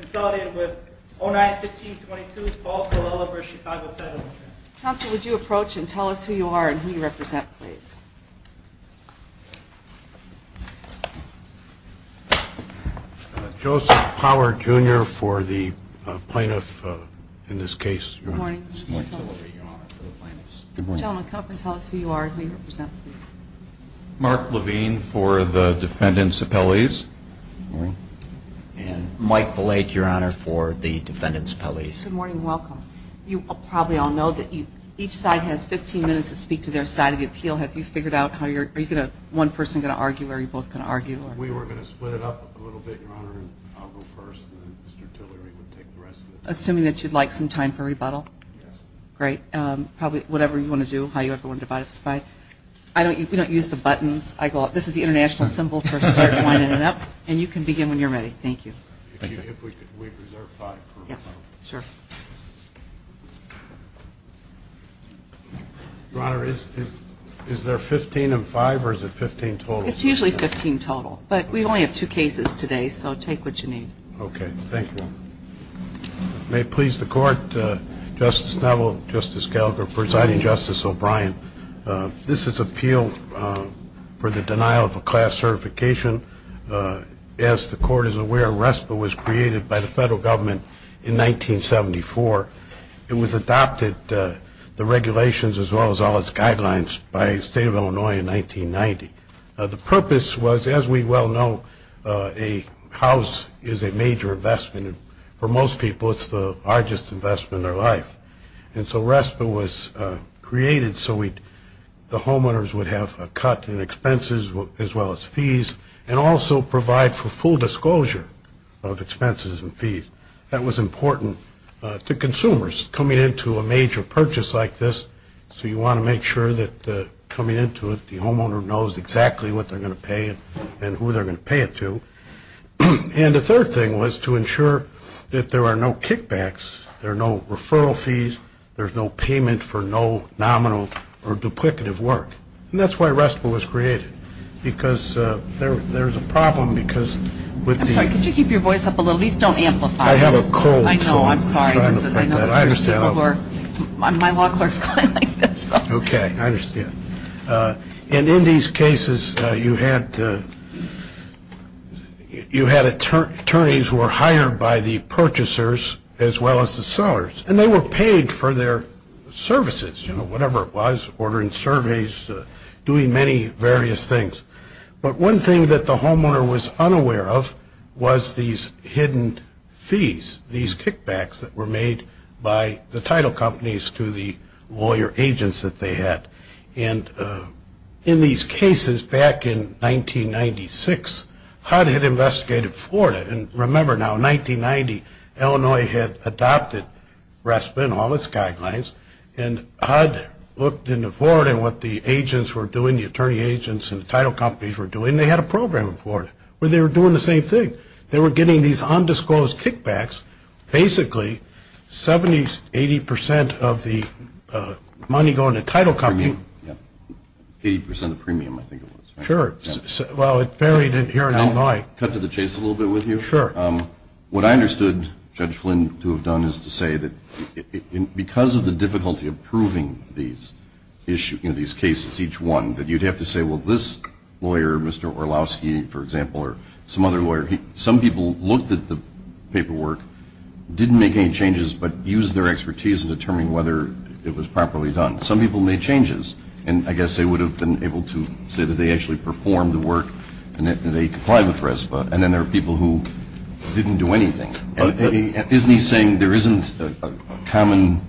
Consolidated with 09-16-22, Paul Colella v. Chicago Title Insurance. Counsel, would you approach and tell us who you are and who you represent, please? Joseph Power, Jr. for the plaintiff in this case. Good morning. Good morning. Gentlemen, come up and tell us who you are and who you represent, please. Mark Levine for the defendant's appellees. Good morning. And Mike Blake, Your Honor, for the defendant's appellees. Good morning. Welcome. You probably all know that each side has 15 minutes to speak to their side of the appeal. Have you figured out how you're going to – one person going to argue or are you both going to argue? We were going to split it up a little bit, Your Honor, and I'll go first, and then Mr. Tillery would take the rest of it. Assuming that you'd like some time for rebuttal? Yes. Great. Whatever you want to do, however you want to divide this by. We don't use the buttons. This is the international symbol for starting, winding it up, and you can begin when you're ready. Thank you. If we could reserve five for rebuttal. Yes, sure. Your Honor, is there 15 in five or is it 15 total? It's usually 15 total, but we only have two cases today, so take what you need. Okay. Thank you. May it please the Court, Justice Neville, Justice Gallagher, Presiding Justice O'Brien, this is appeal for the denial of a class certification. As the Court is aware, RESPA was created by the federal government in 1974. It was adopted, the regulations as well as all its guidelines, by the State of Illinois in 1990. The purpose was, as we well know, a house is a major investment. For most people, it's the largest investment in their life. And so RESPA was created so the homeowners would have a cut in expenses as well as fees and also provide for full disclosure of expenses and fees. That was important to consumers coming into a major purchase like this. So you want to make sure that coming into it, the homeowner knows exactly what they're going to pay and who they're going to pay it to. And the third thing was to ensure that there are no kickbacks, there are no referral fees, there's no payment for no nominal or duplicative work. And that's why RESPA was created, because there's a problem because with the I'm sorry, could you keep your voice up a little? At least don't amplify it. I have a cold. I know, I'm sorry. I understand. My law clerk is calling like this. Okay, I understand. And in these cases, you had attorneys who were hired by the purchasers as well as the sellers, and they were paid for their services, whatever it was, ordering surveys, doing many various things. But one thing that the homeowner was unaware of was these hidden fees, these kickbacks that were made by the title companies to the lawyer agents that they had. And in these cases back in 1996, HUD had investigated Florida. And remember now, 1990, Illinois had adopted RESPA and all its guidelines, and HUD looked into Florida and what the agents were doing, the attorney agents and the title companies were doing, and they had a program in Florida where they were doing the same thing. They were getting these undisclosed kickbacks, basically 70, 80 percent of the money going to title companies. 80 percent of premium, I think it was. Sure. Well, it varied here in Illinois. Can I cut to the chase a little bit with you? Sure. What I understood Judge Flynn to have done is to say that because of the difficulty of proving these cases, each one, that you'd have to say, well, this lawyer, Mr. Orlowski, for example, or some other lawyer, some people looked at the paperwork, didn't make any changes, but used their expertise in determining whether it was properly done. Some people made changes, and I guess they would have been able to say that they actually performed the work and that they complied with RESPA. And then there were people who didn't do anything. Isn't he saying there isn't a common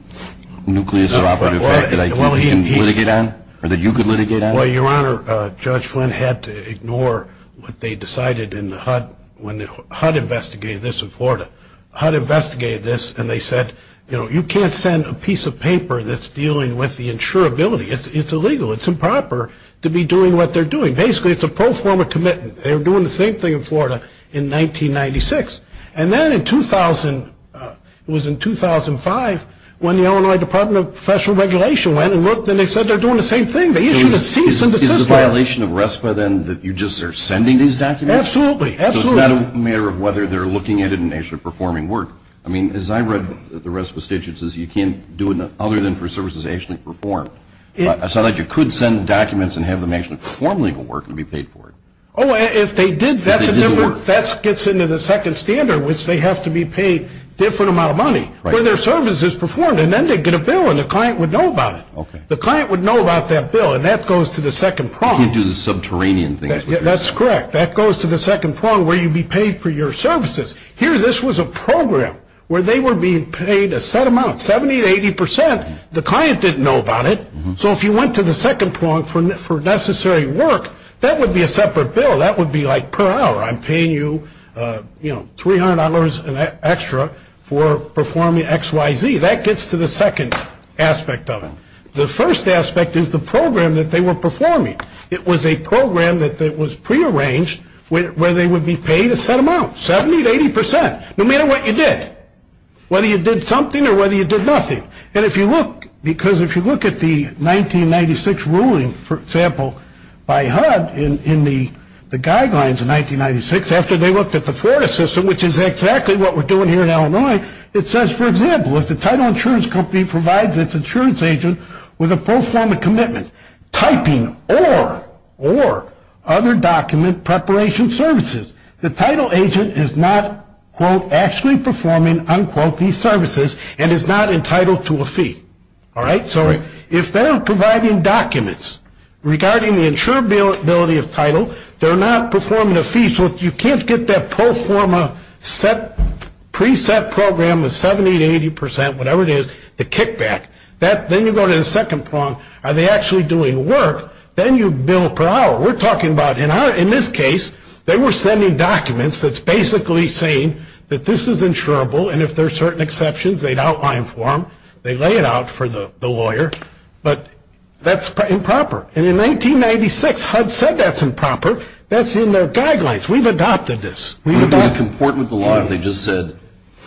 nucleus of operative fact that I can litigate on or that you can litigate on? Well, Your Honor, Judge Flynn had to ignore what they decided in the HUD when HUD investigated this in Florida. HUD investigated this and they said, you know, you can't send a piece of paper that's dealing with the insurability. It's illegal. It's improper to be doing what they're doing. Basically, it's a pro forma commitment. They were doing the same thing in Florida in 1996. And then in 2000, it was in 2005 when the Illinois Department of Professional Regulation went and looked and they said they're doing the same thing. They issued a cease and desist letter. So is it a violation of RESPA, then, that you just are sending these documents? Absolutely. Absolutely. So it's not a matter of whether they're looking at it and actually performing work. I mean, as I read the RESPA statutes, you can't do it other than for services that are actually performed. It's not like you could send documents and have them actually perform legal work and be paid for it. Oh, if they did, that's a different – that gets into the second standard, which they have to be paid a different amount of money for their services performed. And then they'd get a bill and the client would know about it. Okay. The client would know about that bill, and that goes to the second prong. You can't do the subterranean things. That's correct. That goes to the second prong where you'd be paid for your services. Here, this was a program where they were being paid a set amount, 70% to 80%. The client didn't know about it. So if you went to the second prong for necessary work, that would be a separate bill. That would be like per hour, I'm paying you, you know, $300 extra for performing XYZ. That gets to the second aspect of it. The first aspect is the program that they were performing. It was a program that was prearranged where they would be paid a set amount, 70% to 80%, no matter what you did, whether you did something or whether you did nothing. And if you look – because if you look at the 1996 ruling, for example, by HUD in the guidelines in 1996, after they looked at the Florida system, which is exactly what we're doing here in Illinois, it says, for example, if the title insurance company provides its insurance agent with a pro forma commitment, typing or other document preparation services, the title agent is not, quote, actually performing, unquote, these services and is not entitled to a fee. All right? So if they're providing documents regarding the insurability of title, they're not performing a fee. So you can't get that pro forma preset program of 70% to 80%, whatever it is, to kick back. Then you go to the second prong. Are they actually doing work? Then you bill per hour. We're talking about, in this case, they were sending documents that's basically saying that this is insurable, and if there are certain exceptions, they'd outline for them. They lay it out for the lawyer. But that's improper. And in 1996, HUD said that's improper. That's in their guidelines. We've adopted this. We've adopted it. But it's important to the law that they just said,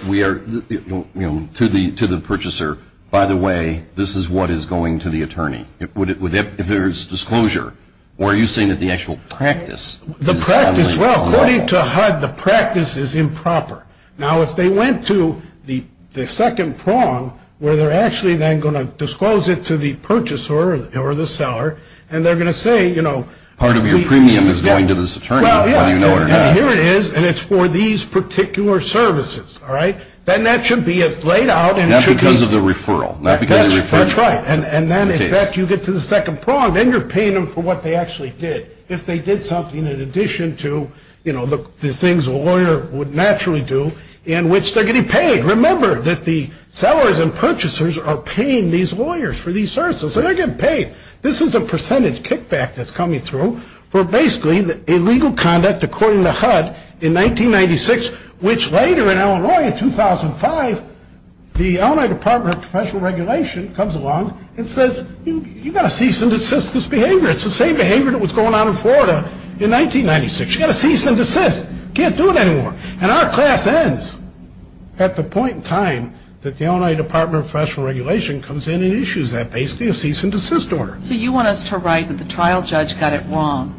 you know, to the purchaser, by the way, this is what is going to the attorney. If there's disclosure, or are you saying that the actual practice is suddenly improper? The practice, well, according to HUD, the practice is improper. Now, if they went to the second prong, where they're actually then going to disclose it to the purchaser or the seller, and they're going to say, you know. Part of your premium is going to this attorney, whether you know it or not. Here it is, and it's for these particular services. All right? Then that should be laid out. Not because of the referral. That's right. And then, in fact, you get to the second prong. Then you're paying them for what they actually did. If they did something in addition to, you know, the things a lawyer would naturally do, in which they're getting paid. Remember that the sellers and purchasers are paying these lawyers for these services. So they're getting paid. This is a percentage kickback that's coming through for basically illegal conduct, according to HUD, in 1996, which later in Illinois in 2005, the Illinois Department of Professional Regulation comes along and says, you've got to cease and desist this behavior. It's the same behavior that was going on in Florida in 1996. You've got to cease and desist. You can't do it anymore. And our class ends at the point in time that the Illinois Department of Professional Regulation comes in and issues that basically a cease and desist order. So you want us to write that the trial judge got it wrong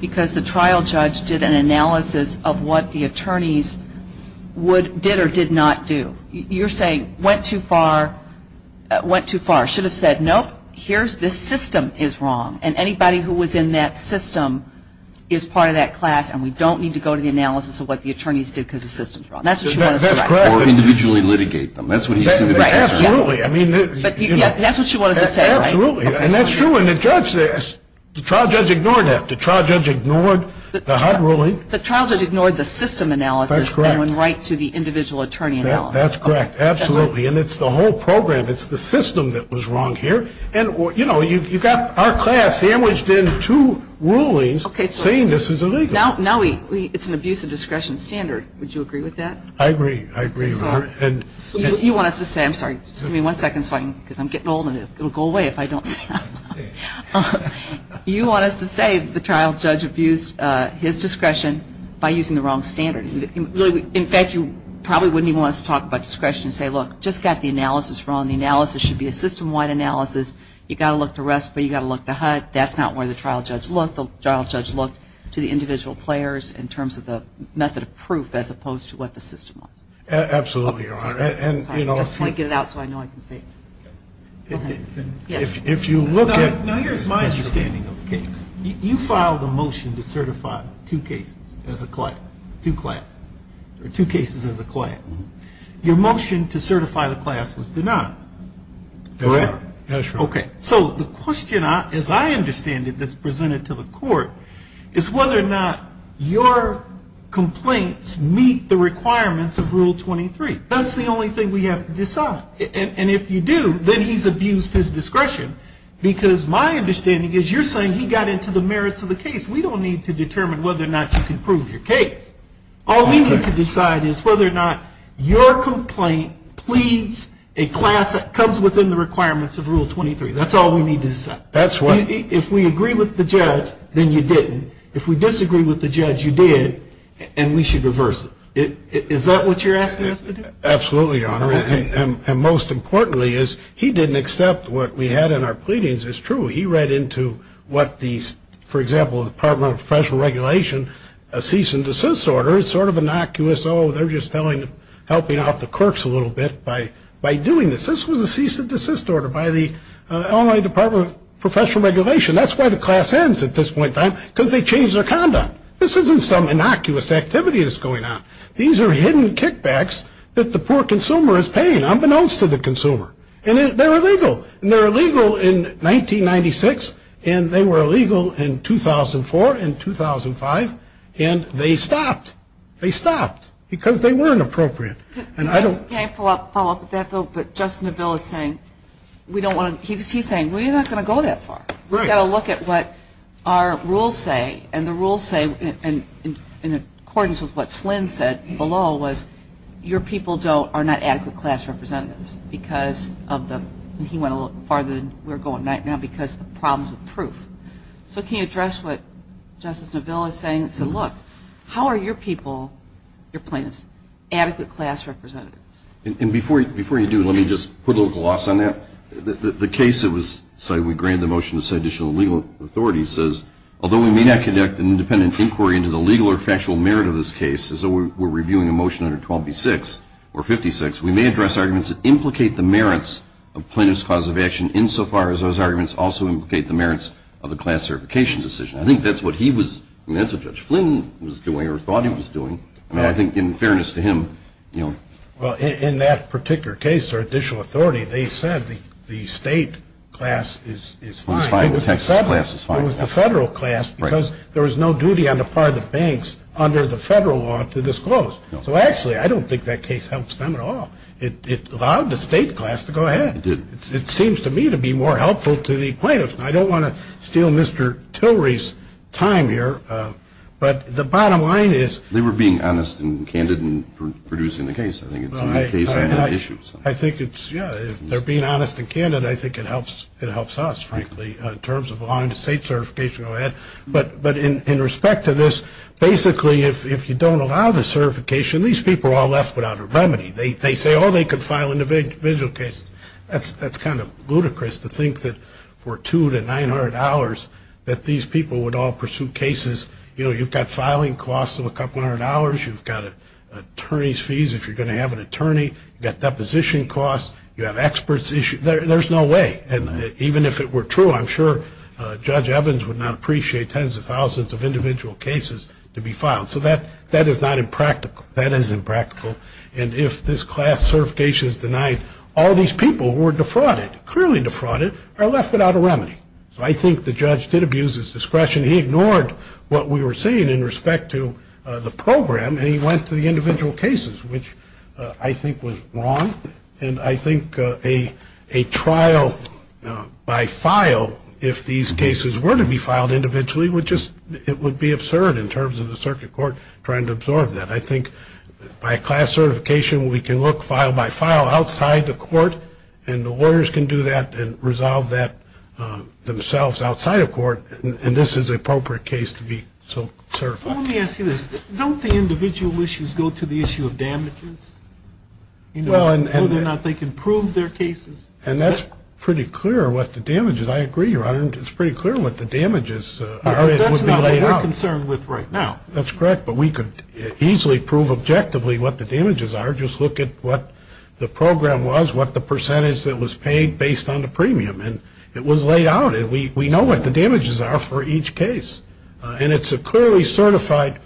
because the trial judge did an analysis of what the attorneys did or did not do. You're saying went too far, should have said, nope, here's this system is wrong. And anybody who was in that system is part of that class, and we don't need to go to the analysis of what the attorneys did because the system's wrong. That's what you want us to write. That's correct. Or individually litigate them. That's what he said. Absolutely. That's what you want us to say, right? Absolutely. And that's true. And the trial judge ignored that. The trial judge ignored the HUD ruling. The trial judge ignored the system analysis and went right to the individual attorney analysis. That's correct. Absolutely. And it's the whole program. It's the system that was wrong here. And, you know, you've got our class sandwiched in two rulings saying this is illegal. Now it's an abuse of discretion standard. Would you agree with that? I agree. I agree. You want us to say the trial judge abused his discretion by using the wrong standard. In fact, you probably wouldn't even want us to talk about discretion and say, look, just got the analysis wrong. The analysis should be a system-wide analysis. You've got to look to RESPA. You've got to look to HUD. That's not where the trial judge looked. The trial judge looked to the individual players in terms of the method of proof as opposed to what the system was. Absolutely, Your Honor. I just want to get it out so I know I can say it. If you look at the case, you filed a motion to certify two cases as a class, two classes, or two cases as a class. Your motion to certify the class was denied. That's right. Okay. So the question, as I understand it, that's presented to the court is whether or not your complaints meet the requirements of Rule 23. That's the only thing we have to decide. And if you do, then he's abused his discretion because my understanding is you're saying he got into the merits of the case. We don't need to determine whether or not you can prove your case. All we need to decide is whether or not your complaint pleads a class that comes within the requirements of Rule 23. That's all we need to decide. That's right. If we agree with the judge, then you didn't. If we disagree with the judge, you did, and we should reverse it. Is that what you're asking us to do? Absolutely, Your Honor. And most importantly is he didn't accept what we had in our pleadings. It's true. He read into what the, for example, the Department of Professional Regulation, a cease and desist order. It's sort of innocuous. Oh, they're just helping out the clerks a little bit by doing this. This was a cease and desist order by the Illinois Department of Professional Regulation. That's why the class ends at this point in time because they changed their conduct. This isn't some innocuous activity that's going on. These are hidden kickbacks that the poor consumer is paying unbeknownst to the consumer. And they're illegal. And they're illegal in 1996, and they were illegal in 2004 and 2005, and they stopped. They stopped because they weren't appropriate. Can I follow up with that, though? But Justice Neville is saying we don't want to, he's saying we're not going to go that far. We've got to look at what our rules say, and the rules say, in accordance with what Flynn said below, was your people are not adequate class representatives because of the, and he went a little farther than we're going right now, because of the problems with proof. So can you address what Justice Neville is saying? He said, look, how are your people, your plaintiffs, adequate class representatives? And before you do, let me just put a little gloss on that. The case that was cited, we granted the motion to cite additional legal authority, says, although we may not conduct an independent inquiry into the legal or factual merit of this case, as though we're reviewing a motion under 12B6 or 56, we may address arguments that implicate the merits of plaintiff's cause of action, insofar as those arguments also implicate the merits of the class certification decision. I think that's what he was, I mean, that's what Judge Flynn was doing or thought he was doing. I mean, I think in fairness to him, you know. Well, in that particular case, additional authority, they said the state class is fine. It was the federal class because there was no duty on the part of the banks under the federal law to disclose. So actually, I don't think that case helps them at all. It allowed the state class to go ahead. It seems to me to be more helpful to the plaintiffs. I don't want to steal Mr. Tillery's time here, but the bottom line is. They were being honest and candid in producing the case. I think it's in that case I had issues. I think it's, yeah, they're being honest and candid. I think it helps us, frankly, in terms of allowing the state certification to go ahead. But in respect to this, basically, if you don't allow the certification, these people are all left without a remedy. They say, oh, they could file individual cases. That's kind of ludicrous to think that for $200 to $900 that these people would all pursue cases. You know, you've got filing costs of a couple hundred dollars. You've got an attorney's fees if you're going to have an attorney. You've got deposition costs. You have experts issues. There's no way. And even if it were true, I'm sure Judge Evans would not appreciate tens of thousands of individual cases to be filed. So that is not impractical. That is impractical. And if this class certification is denied, all these people who were defrauded, clearly defrauded, are left without a remedy. So I think the judge did abuse his discretion. He ignored what we were saying in respect to the program, and he went to the individual cases, which I think was wrong. And I think a trial by file, if these cases were to be filed individually, would just be absurd in terms of the circuit court trying to absorb that. And I think by a class certification, we can look file by file outside the court, and the lawyers can do that and resolve that themselves outside of court. And this is an appropriate case to be certified. Let me ask you this. Don't the individual issues go to the issue of damages, whether or not they can prove their cases? And that's pretty clear what the damage is. I agree, Your Honor. It's pretty clear what the damage is. That's not what we're concerned with right now. That's correct. But we could easily prove objectively what the damages are. Just look at what the program was, what the percentage that was paid based on the premium. And it was laid out. We know what the damages are for each case. And it's a clearly certified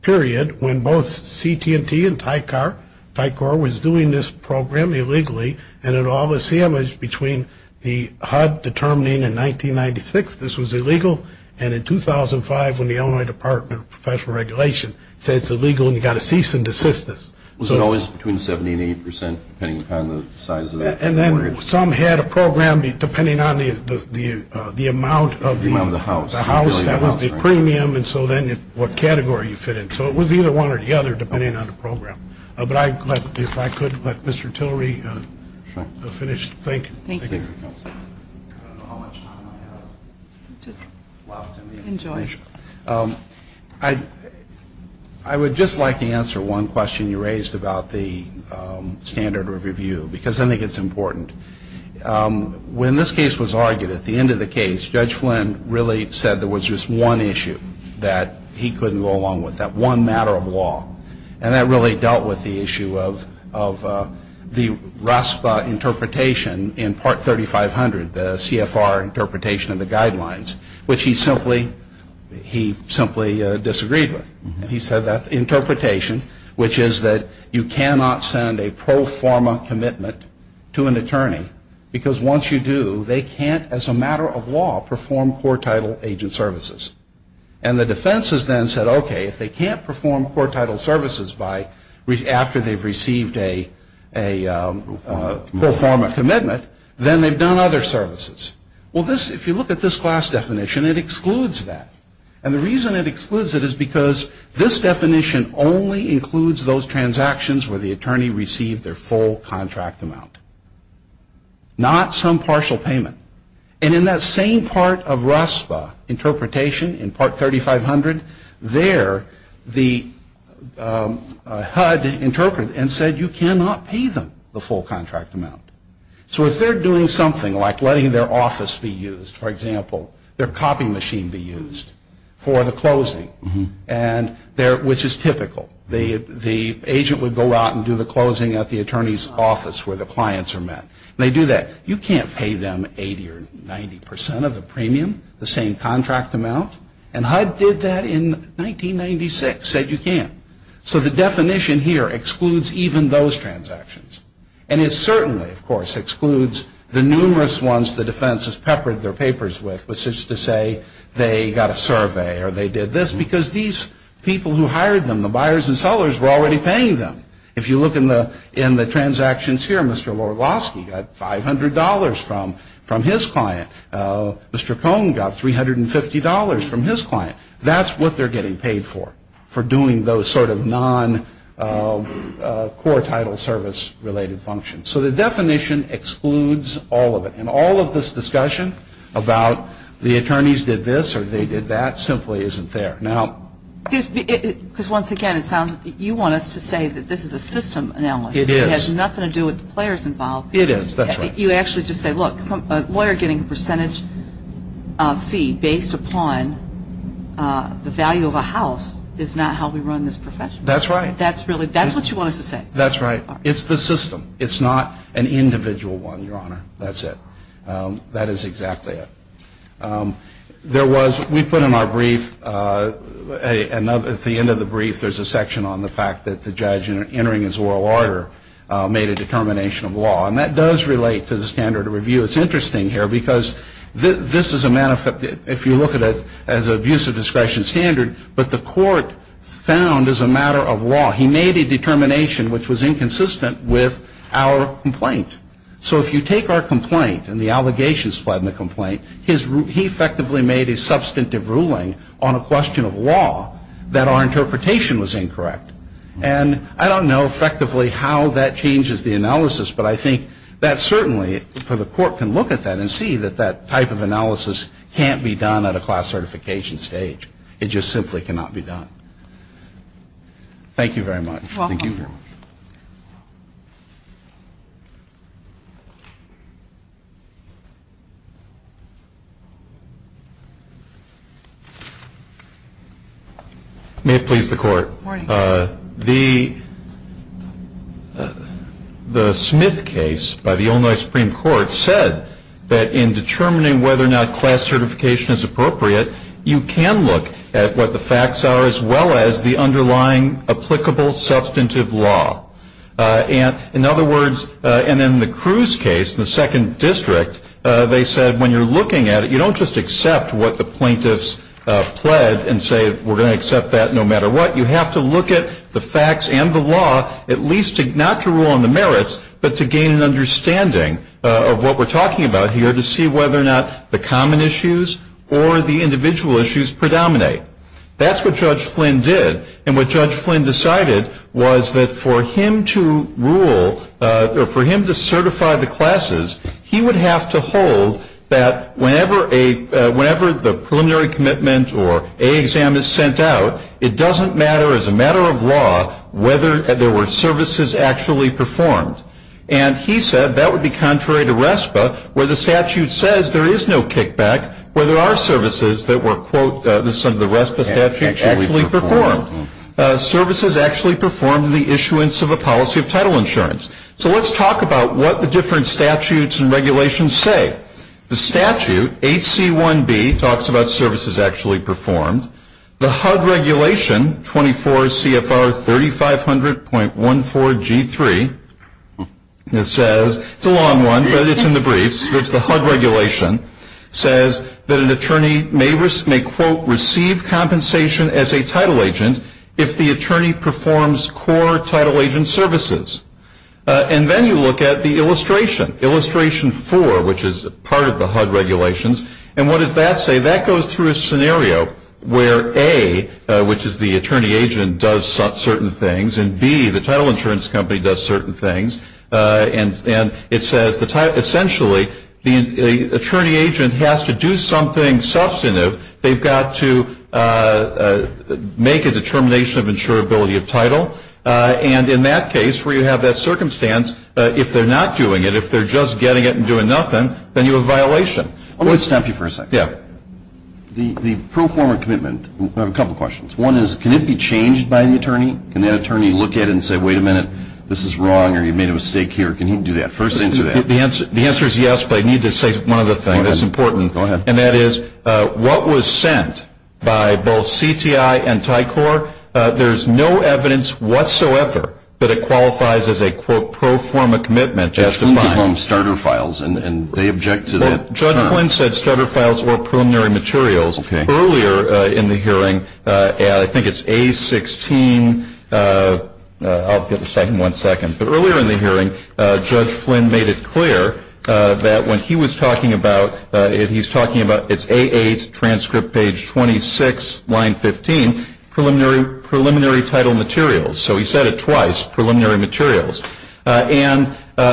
period when both CT&T and Tycor was doing this program illegally, and it all was sandwiched between the HUD determining in 1996 this was illegal, and in 2005 when the Illinois Department of Professional Regulation said it's illegal and you've got to cease and desist this. Was it always between 70% and 80% depending upon the size of that? And then some had a program, depending on the amount of the house, that was the premium, and so then what category you fit in. So it was either one or the other depending on the program. But if I could, let Mr. Tillery finish thinking. Thank you. I don't know how much time I have left. Enjoy. I would just like to answer one question you raised about the standard of review, because I think it's important. When this case was argued, at the end of the case, Judge Flynn really said there was just one issue that he couldn't go along with, that one matter of law. And that really dealt with the issue of the RASPA interpretation in Part 3500, the CFR interpretation of the guidelines, which he simply disagreed with. He said that interpretation, which is that you cannot send a pro forma commitment to an attorney, because once you do, they can't, as a matter of law, perform core title agent services. And the defense has then said, okay, if they can't perform core title services after they've received a pro forma commitment, then they've done other services. Well, if you look at this class definition, it excludes that. And the reason it excludes it is because this definition only includes those transactions where the attorney received their full contract amount, not some partial payment. And in that same part of RASPA interpretation in Part 3500, there the HUD interpreted and said you cannot pay them the full contract amount. So if they're doing something like letting their office be used, for example, their copying machine be used for the closing, which is typical, the agent would go out and do the closing at the attorney's office where the clients are met. And they do that. You can't pay them 80 or 90 percent of the premium, the same contract amount. And HUD did that in 1996, said you can't. So the definition here excludes even those transactions. And it certainly, of course, excludes the numerous ones the defense has peppered their papers with, which is to say they got a survey or they did this, because these people who hired them, the buyers and sellers, were already paying them. If you look in the transactions here, Mr. Lorgosky got $500 from his client. Mr. Cohn got $350 from his client. That's what they're getting paid for, for doing those sort of non-core title service related functions. So the definition excludes all of it. And all of this discussion about the attorneys did this or they did that simply isn't there. Because, once again, you want us to say that this is a system analysis. It is. It has nothing to do with the players involved. It is. That's right. You actually just say, look, a lawyer getting a percentage fee based upon the value of a house is not how we run this profession. That's right. That's what you want us to say. That's right. It's the system. It's not an individual one, Your Honor. That's it. That is exactly it. There was, we put in our brief, at the end of the brief, there's a section on the fact that the judge entering his oral order made a determination of law. And that does relate to the standard of review. It's interesting here because this is a, if you look at it as an abuse of discretion standard, but the court found as a matter of law he made a determination which was inconsistent with our complaint. So if you take our complaint and the allegations in the complaint, he effectively made a substantive ruling on a question of law that our interpretation was incorrect. And I don't know effectively how that changes the analysis, but I think that certainly the court can look at that and see that that type of analysis can't be done at a class certification stage. It just simply cannot be done. Thank you very much. Thank you very much. May it please the Court. Morning. The Smith case by the Illinois Supreme Court said that in determining whether or not class certification is appropriate, you can look at what the facts are as well as the underlying applicable substantive law. In other words, and in the Cruz case, the second district, they said when you're looking at it, you don't just accept what the plaintiffs pled and say we're going to accept that no matter what. You have to look at the facts and the law, at least not to rule on the merits, but to gain an understanding of what we're talking about here to see whether or not the common issues or the individual issues predominate. That's what Judge Flynn did. And what Judge Flynn decided was that for him to rule or for him to certify the classes, he would have to hold that whenever the preliminary commitment or A exam is sent out, it doesn't matter as a matter of law whether there were services actually performed. And he said that would be contrary to RESPA where the statute says there is no kickback, where there are services that were, quote, under the RESPA statute actually performed. Services actually performed the issuance of a policy of title insurance. So let's talk about what the different statutes and regulations say. The statute, HC1B, talks about services actually performed. The HUD regulation, 24 CFR 3500.14G3, it says, it's a long one, but it's in the briefs, but it's the HUD regulation, says that an attorney may, quote, receive compensation as a title agent if the attorney performs core title agent services. And then you look at the illustration, illustration four, which is part of the HUD regulations. And what does that say? That goes through a scenario where, A, which is the attorney agent does certain things, and, B, the title insurance company does certain things. And it says, essentially, the attorney agent has to do something substantive. They've got to make a determination of insurability of title. And in that case, where you have that circumstance, if they're not doing it, if they're just getting it and doing nothing, then you have a violation. I want to stop you for a second. Yeah. The pro forma commitment, I have a couple questions. One is, can it be changed by the attorney? Can the attorney look at it and say, wait a minute, this is wrong, or you made a mistake here? Can he do that? First answer to that. The answer is yes, but I need to say one other thing that's important. Go ahead. And that is, what was sent by both CTI and TICOR, there's no evidence whatsoever that it qualifies as a, quote, pro forma commitment. Judge Flynn gave them starter files, and they object to that. Judge Flynn said starter files were preliminary materials. Okay. Earlier in the hearing, I think it's A16, I'll get a second, one second. But earlier in the hearing, Judge Flynn made it clear that when he was talking about, he's talking about it's A8, transcript page 26, line 15, preliminary title materials. So he said it twice, preliminary materials. And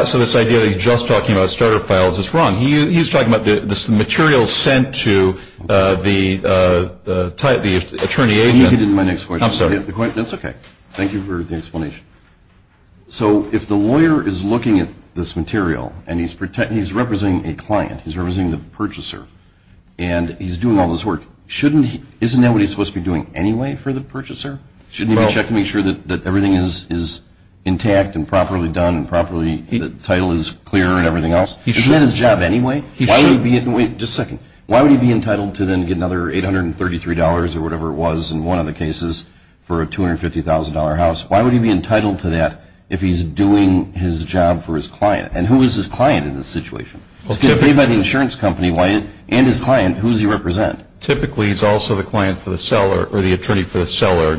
so this idea that he's just talking about starter files is wrong. He's talking about this material sent to the attorney agent. Let me get into my next question. I'm sorry. That's okay. Thank you for the explanation. So if the lawyer is looking at this material, and he's representing a client, he's representing the purchaser, and he's doing all this work, isn't that what he's supposed to be doing anyway for the purchaser? Shouldn't he be checking to make sure that everything is intact and properly done and the title is clear and everything else? Isn't that his job anyway? Why would he be entitled to then get another $833 or whatever it was in one of the cases for a $250,000 house? Why would he be entitled to that if he's doing his job for his client? And who is his client in this situation? He's getting paid by the insurance company, and his client, who does he represent? Typically, he's also the client for the seller or the attorney for the seller.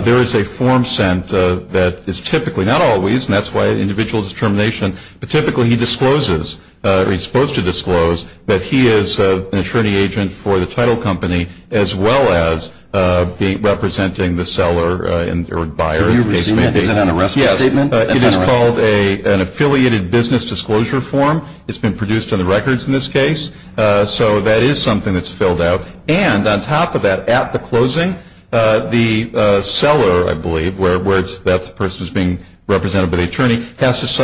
There is a form sent that is typically not always, and that's why individual determination, but typically he discloses, or he's supposed to disclose, that he is an attorney agent for the title company as well as representing the seller or buyer in this case. Is it an arrestment statement? Yes. It is called an affiliated business disclosure form. It's been produced on the records in this case. So that is something that's filled out. And on top of that, at the closing, the seller, I believe, where that person is being represented by the attorney,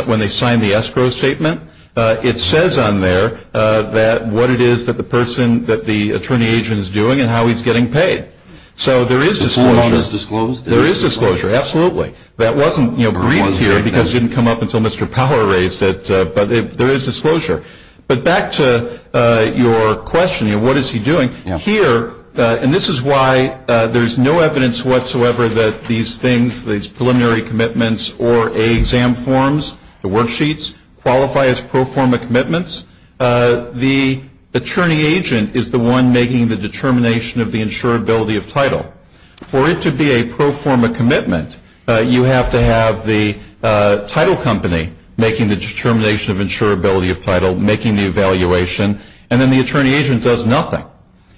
when they sign the escrow statement, it says on there what it is that the attorney agent is doing and how he's getting paid. So there is disclosure. The form is disclosed? There is disclosure, absolutely. That wasn't briefed here because it didn't come up until Mr. Power raised it, but there is disclosure. But back to your question, what is he doing? Here, and this is why there is no evidence whatsoever that these things, these preliminary commitments or A exam forms, the worksheets, qualify as pro forma commitments. The attorney agent is the one making the determination of the insurability of title. For it to be a pro forma commitment, you have to have the title company making the determination of insurability of title, making the evaluation, and then the attorney agent does nothing.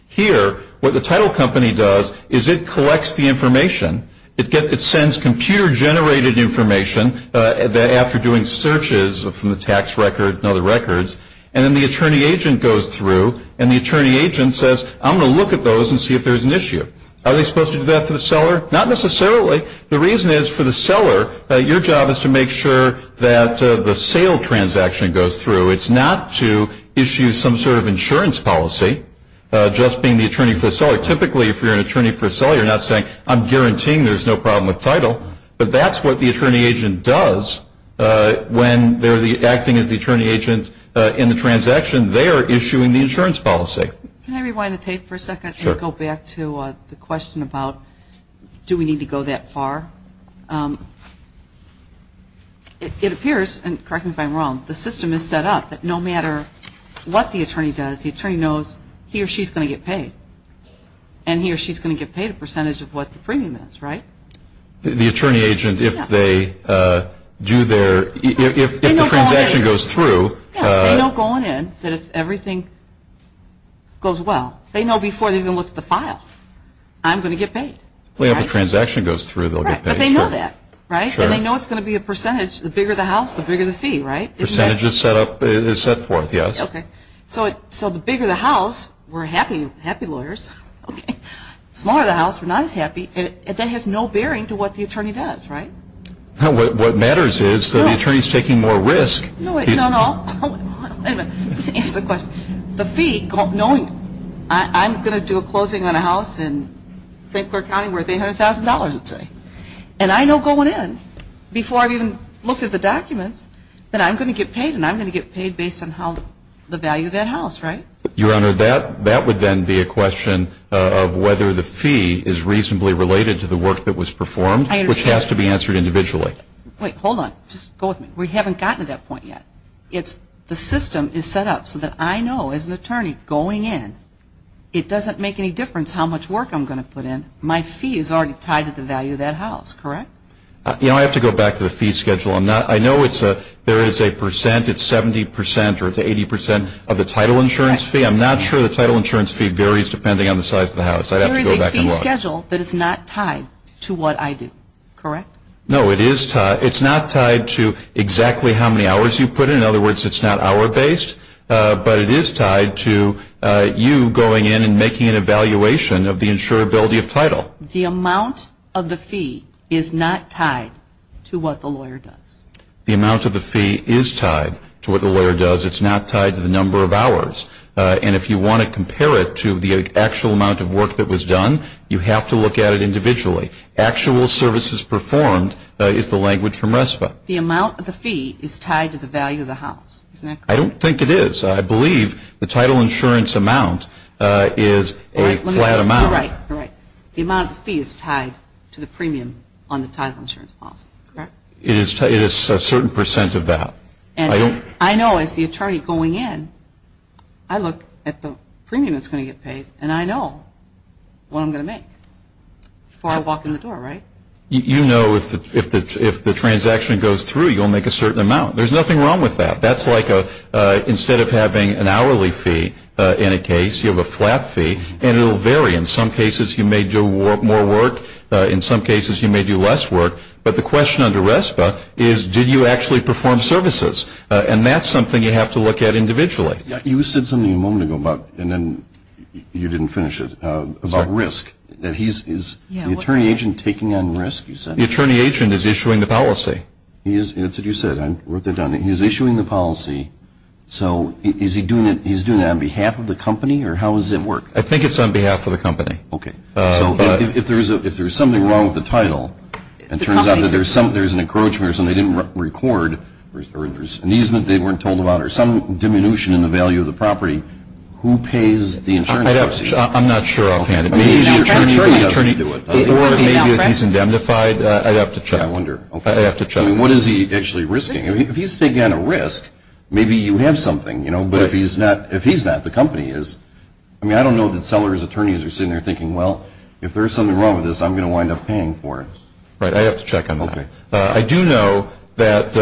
Here, what the title company does is it collects the information. It sends computer-generated information after doing searches from the tax record and other records, and then the attorney agent goes through and the attorney agent says, I'm going to look at those and see if there's an issue. Are they supposed to do that for the seller? Not necessarily. The reason is for the seller, your job is to make sure that the sale transaction goes through. It's not to issue some sort of insurance policy, just being the attorney for the seller. Typically, if you're an attorney for the seller, you're not saying, I'm guaranteeing there's no problem with title, but that's what the attorney agent does when they're acting as the attorney agent in the transaction. They are issuing the insurance policy. Can I rewind the tape for a second? Sure. I want to go back to the question about do we need to go that far? It appears, and correct me if I'm wrong, the system is set up that no matter what the attorney does, the attorney knows he or she is going to get paid, and he or she is going to get paid a percentage of what the premium is, right? The attorney agent, if they do their, if the transaction goes through. They know going in that if everything goes well. They know before they even look at the file, I'm going to get paid. If the transaction goes through, they'll get paid. But they know that, right? Sure. And they know it's going to be a percentage. The bigger the house, the bigger the fee, right? Percentage is set forth, yes. Okay. So the bigger the house, we're happy lawyers. Smaller the house, we're not as happy. That has no bearing to what the attorney does, right? What matters is that the attorney is taking more risk. No, no, no. Wait a minute. Let me just answer the question. The fee, knowing I'm going to do a closing on a house in St. Clair County worth $800,000, let's say, and I know going in before I've even looked at the documents that I'm going to get paid, and I'm going to get paid based on how the value of that house, right? Your Honor, that would then be a question of whether the fee is reasonably related to the work that was performed, which has to be answered individually. Wait. Hold on. Just go with me. We haven't gotten to that point yet. The system is set up so that I know as an attorney going in, it doesn't make any difference how much work I'm going to put in. My fee is already tied to the value of that house, correct? You know, I have to go back to the fee schedule. I know there is a percent. It's 70% or 80% of the title insurance fee. I'm not sure the title insurance fee varies depending on the size of the house. I'd have to go back and look. There is a fee schedule that is not tied to what I do, correct? No, it is tied. It's not tied to exactly how many hours you put in. In other words, it's not hour based, but it is tied to you going in and making an evaluation of the insurability of title. The amount of the fee is not tied to what the lawyer does. The amount of the fee is tied to what the lawyer does. It's not tied to the number of hours. And if you want to compare it to the actual amount of work that was done, you have to look at it individually. Actual services performed is the language from RESPA. The amount of the fee is tied to the value of the house, isn't that correct? I don't think it is. I believe the title insurance amount is a flat amount. You're right, you're right. The amount of the fee is tied to the premium on the title insurance policy, correct? It is a certain percent of that. I know as the attorney going in, I look at the premium that's going to get paid, and I know what I'm going to make before I walk in the door, right? You know if the transaction goes through, you'll make a certain amount. There's nothing wrong with that. That's like instead of having an hourly fee in a case, you have a flat fee, and it will vary. In some cases, you may do more work. In some cases, you may do less work. But the question under RESPA is did you actually perform services? And that's something you have to look at individually. You said something a moment ago, and then you didn't finish it, about risk. Is the attorney agent taking on risk, you said? The attorney agent is issuing the policy. That's what you said. I wrote that down. He's issuing the policy. So is he doing that on behalf of the company, or how does it work? I think it's on behalf of the company. Okay. So if there's something wrong with the title, it turns out that there's an encroachment or something they didn't record, or there's an easement they weren't told about, or some diminution in the value of the property, who pays the insurance policy? I'm not sure offhand. Maybe the attorney doesn't do it. Or maybe he's indemnified. I'd have to check. I wonder. I'd have to check. I mean, what is he actually risking? If he's taking on a risk, maybe you have something. But if he's not, the company is. I mean, I don't know that seller's attorneys are sitting there thinking, well, if there's something wrong with this, I'm going to wind up paying for it. Right. I'd have to check on that. Okay. I do know that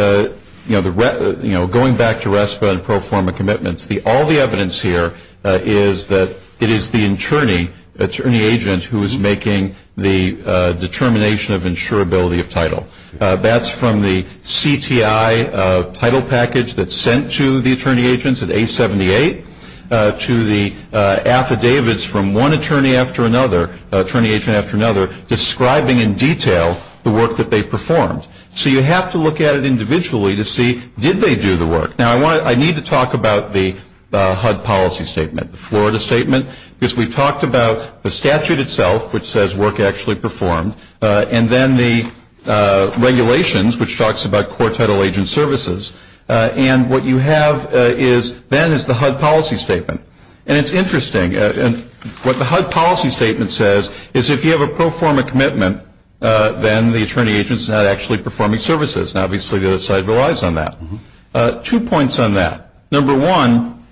going back to RESPA and pro forma commitments, all the evidence here is that it is the attorney, attorney agent who is making the determination of insurability of title. That's from the CTI title package that's sent to the attorney agents at A78, to the affidavits from one attorney after another, attorney agent after another, describing in detail the work that they performed. So you have to look at it individually to see, did they do the work? Now, I need to talk about the HUD policy statement, the Florida statement, because we talked about the statute itself, which says work actually performed, and then the regulations, which talks about quartetal agent services. And what you have then is the HUD policy statement. And it's interesting. What the HUD policy statement says is if you have a pro forma commitment, then the attorney agent's not actually performing services. Now, obviously the other side relies on that. Two points on that. Number one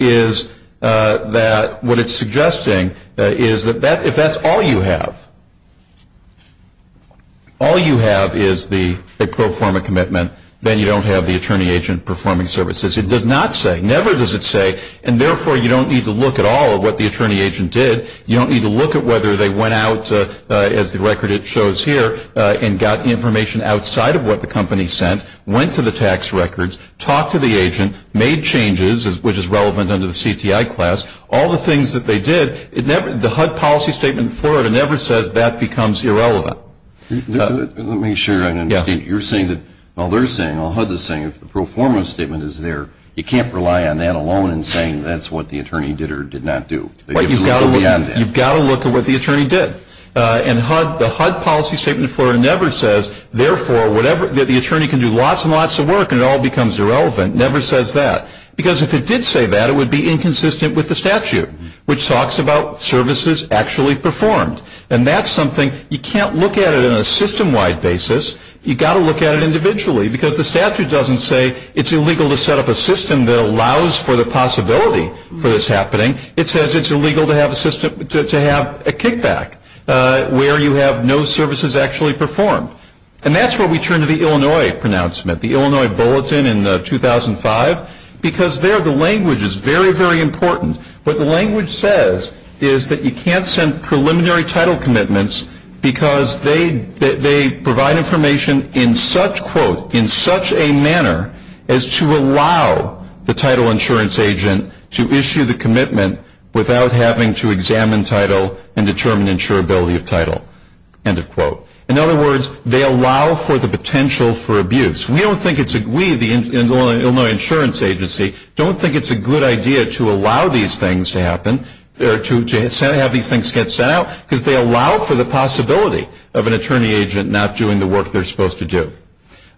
is that what it's suggesting is that if that's all you have, all you have is the pro forma commitment, then you don't have the attorney agent performing services. It does not say, never does it say, and therefore you don't need to look at all of what the attorney agent did. You don't need to look at whether they went out, as the record shows here, and got information outside of what the company sent, went to the tax records, talked to the agent, made changes, which is relevant under the CTI class, all the things that they did. The HUD policy statement in Florida never says that becomes irrelevant. Let me make sure I understand. You're saying that all they're saying, all HUD's saying, if the pro forma statement is there, you can't rely on that alone in saying that's what the attorney did or did not do. You've got to look at what the attorney did. And HUD, the HUD policy statement in Florida never says, therefore whatever the attorney can do lots and lots of work and it all becomes irrelevant, never says that. Because if it did say that, it would be inconsistent with the statute, which talks about services actually performed. And that's something you can't look at it on a system-wide basis. You've got to look at it individually. Because the statute doesn't say it's illegal to set up a system that allows for the possibility for this happening. It says it's illegal to have a system, to have a kickback, where you have no services actually performed. And that's where we turn to the Illinois pronouncement, the Illinois Bulletin in 2005, because there the language is very, very important. What the language says is that you can't send preliminary title commitments because they provide information in such, quote, in such a manner as to allow the title insurance agent to issue the commitment without having to examine title and determine insurability of title, end of quote. In other words, they allow for the potential for abuse. We, the Illinois Insurance Agency, don't think it's a good idea to allow these things to happen or to have these things get sent out because they allow for the possibility of an attorney agent not doing the work they're supposed to do.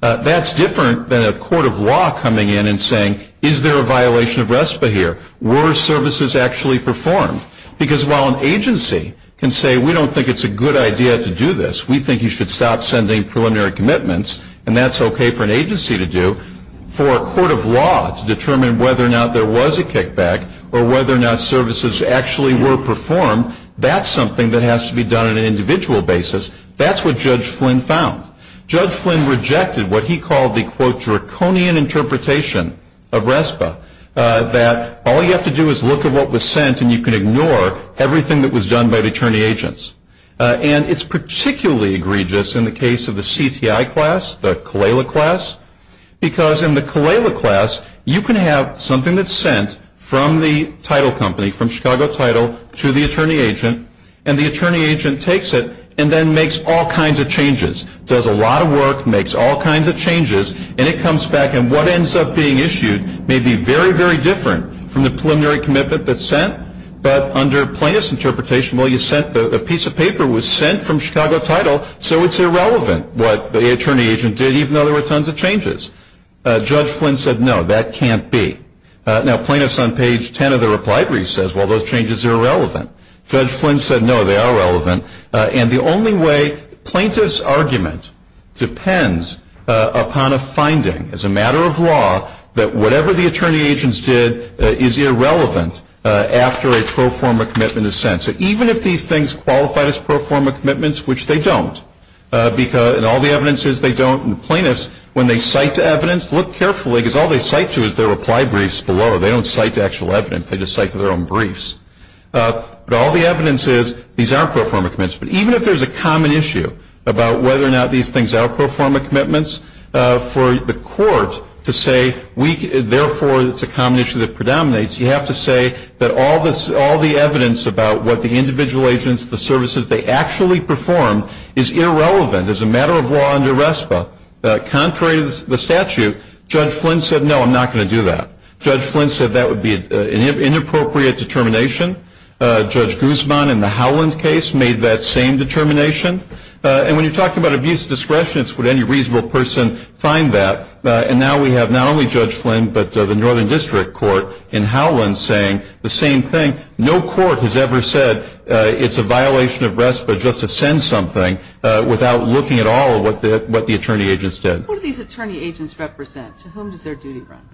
That's different than a court of law coming in and saying, is there a violation of RESPA here? Were services actually performed? Because while an agency can say, we don't think it's a good idea to do this, we think you should stop sending preliminary commitments, and that's okay for an agency to do, for a court of law to determine whether or not there was a kickback or whether or not services actually were performed. That's something that has to be done on an individual basis. That's what Judge Flynn found. Judge Flynn rejected what he called the, quote, draconian interpretation of RESPA, that all you have to do is look at what was sent and you can ignore everything that was done by the attorney agents. And it's particularly egregious in the case of the CTI class, the Calella class, because in the Calella class, you can have something that's sent from the title company, from Chicago Title, to the attorney agent, and the attorney agent takes it and then makes all kinds of changes, does a lot of work, makes all kinds of changes, and it comes back, and what ends up being issued may be very, very different from the preliminary commitment that's sent, but under plaintiff's interpretation, a piece of paper was sent from Chicago Title, so it's irrelevant what the attorney agent did, even though there were tons of changes. Judge Flynn said, no, that can't be. Now, plaintiffs on page 10 of the reply brief says, well, those changes are irrelevant. Judge Flynn said, no, they are relevant, and the only way plaintiff's argument depends upon a finding as a matter of law that whatever the attorney agents did is irrelevant after a pro forma commitment is sent. So even if these things qualify as pro forma commitments, which they don't, and all the evidence is they don't, and the plaintiffs, when they cite to evidence, look carefully, because all they cite to is their reply briefs below. They don't cite to actual evidence. They just cite to their own briefs. But all the evidence is these are pro forma commitments. But even if there's a common issue about whether or not these things are pro forma commitments, for the court to say, therefore, it's a common issue that predominates, you have to say that all the evidence about what the individual agents, the services they actually performed, is irrelevant as a matter of law under RESPA. Contrary to the statute, Judge Flynn said, no, I'm not going to do that. Judge Flynn said that would be an inappropriate determination. Judge Guzman in the Howland case made that same determination. And when you're talking about abuse of discretion, it's would any reasonable person find that. And now we have not only Judge Flynn, but the Northern District Court in Howland saying the same thing. No court has ever said it's a violation of RESPA just to send something without looking at all of what the attorney agents did. Who do these attorney agents represent? To whom does their duty run?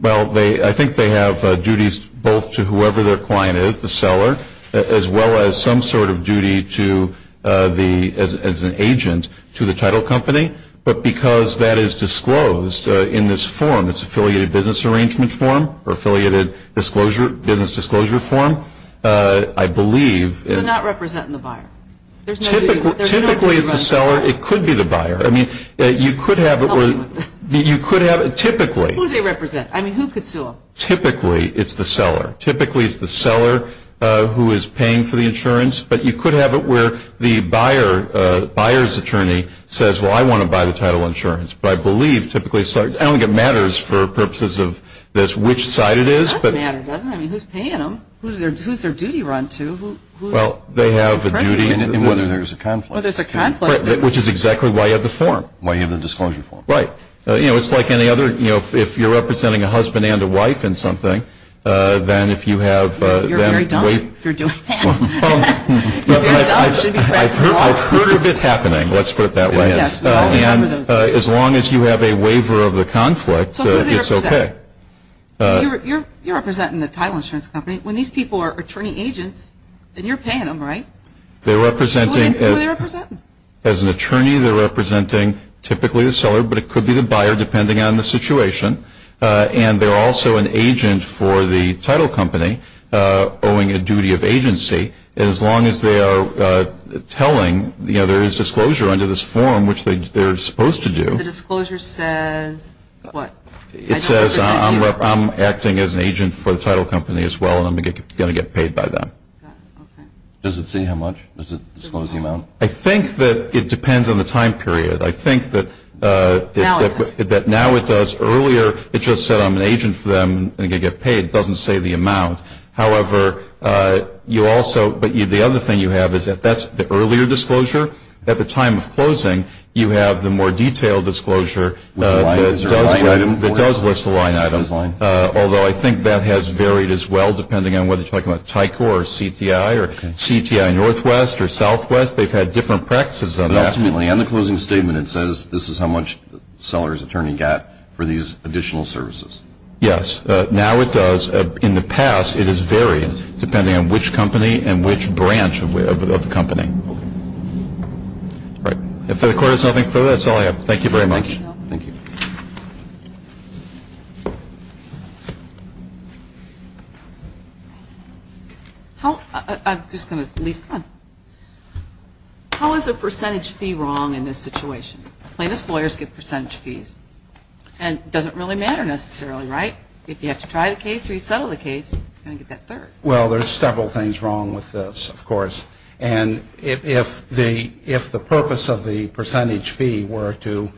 Well, I think they have duties both to whoever their client is, the seller, as well as some sort of duty as an agent to the title company. But because that is disclosed in this form, this Affiliated Business Arrangement form, or Affiliated Business Disclosure form, I believe. They're not representing the buyer. Typically it's the seller. It could be the buyer. I mean, you could have it where you could have it typically. Who do they represent? I mean, who could sue them? Typically it's the seller. Typically it's the seller who is paying for the insurance. But you could have it where the buyer's attorney says, well, I want to buy the title insurance. But I believe typically it's the seller. I don't think it matters for purposes of which side it is. It does matter, doesn't it? I mean, who's paying them? Who's their duty run to? Well, they have a duty. And whether there's a conflict. Well, there's a conflict. Which is exactly why you have the form. Why you have the disclosure form. Right. You know, it's like any other, you know, if you're representing a husband and a wife in something, then if you have them waive. You're very dumb if you're doing that. You're very dumb. You should be practicing law. I've heard of it happening. Let's put it that way. And as long as you have a waiver of the conflict, it's okay. So who do they represent? You're representing the title insurance company. When these people are attorney agents, then you're paying them, right? Who are they representing? As an attorney, they're representing typically the seller. But it could be the buyer, depending on the situation. And they're also an agent for the title company owing a duty of agency. And as long as they are telling, you know, there is disclosure under this form, which they're supposed to do. The disclosure says what? It says I'm acting as an agent for the title company as well, and I'm going to get paid by them. Does it say how much? Does it disclose the amount? I think that it depends on the time period. I think that now it does. Earlier, it just said I'm an agent for them, and I'm going to get paid. It doesn't say the amount. However, you also – but the other thing you have is that that's the earlier disclosure. At the time of closing, you have the more detailed disclosure that does list a line item. Although I think that has varied as well, depending on whether you're talking about TICOR or CTI or CTI Northwest or Southwest. They've had different practices on that. Ultimately, on the closing statement, it says this is how much the seller's attorney got for these additional services. Yes. Now it does. In the past, it has varied depending on which company and which branch of the company. All right. If the Court has nothing further, that's all I have. Thank you very much. Thank you. I'm just going to lead on. How is a percentage fee wrong in this situation? Plaintiffs' lawyers get percentage fees. And it doesn't really matter necessarily, right? If you have to try the case or you settle the case, you're going to get that third. Well, there's several things wrong with this, of course. And if the purpose of the percentage fee were to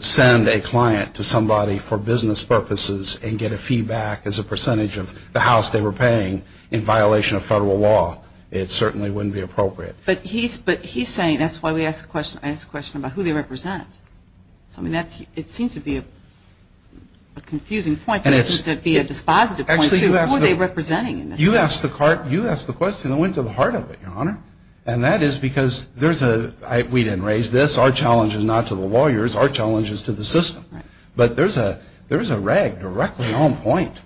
send a client to somebody for business purposes and get a fee back as a percentage of the house they were paying in violation of federal law, it certainly wouldn't be appropriate. But he's saying that's why I asked the question about who they represent. It seems to be a confusing point, but it seems to be a dispositive point, too. Who are they representing? You asked the question that went to the heart of it, Your Honor. And that is because there's a – we didn't raise this. Our challenge is not to the lawyers. Our challenge is to the system. But there's a rag directly on point.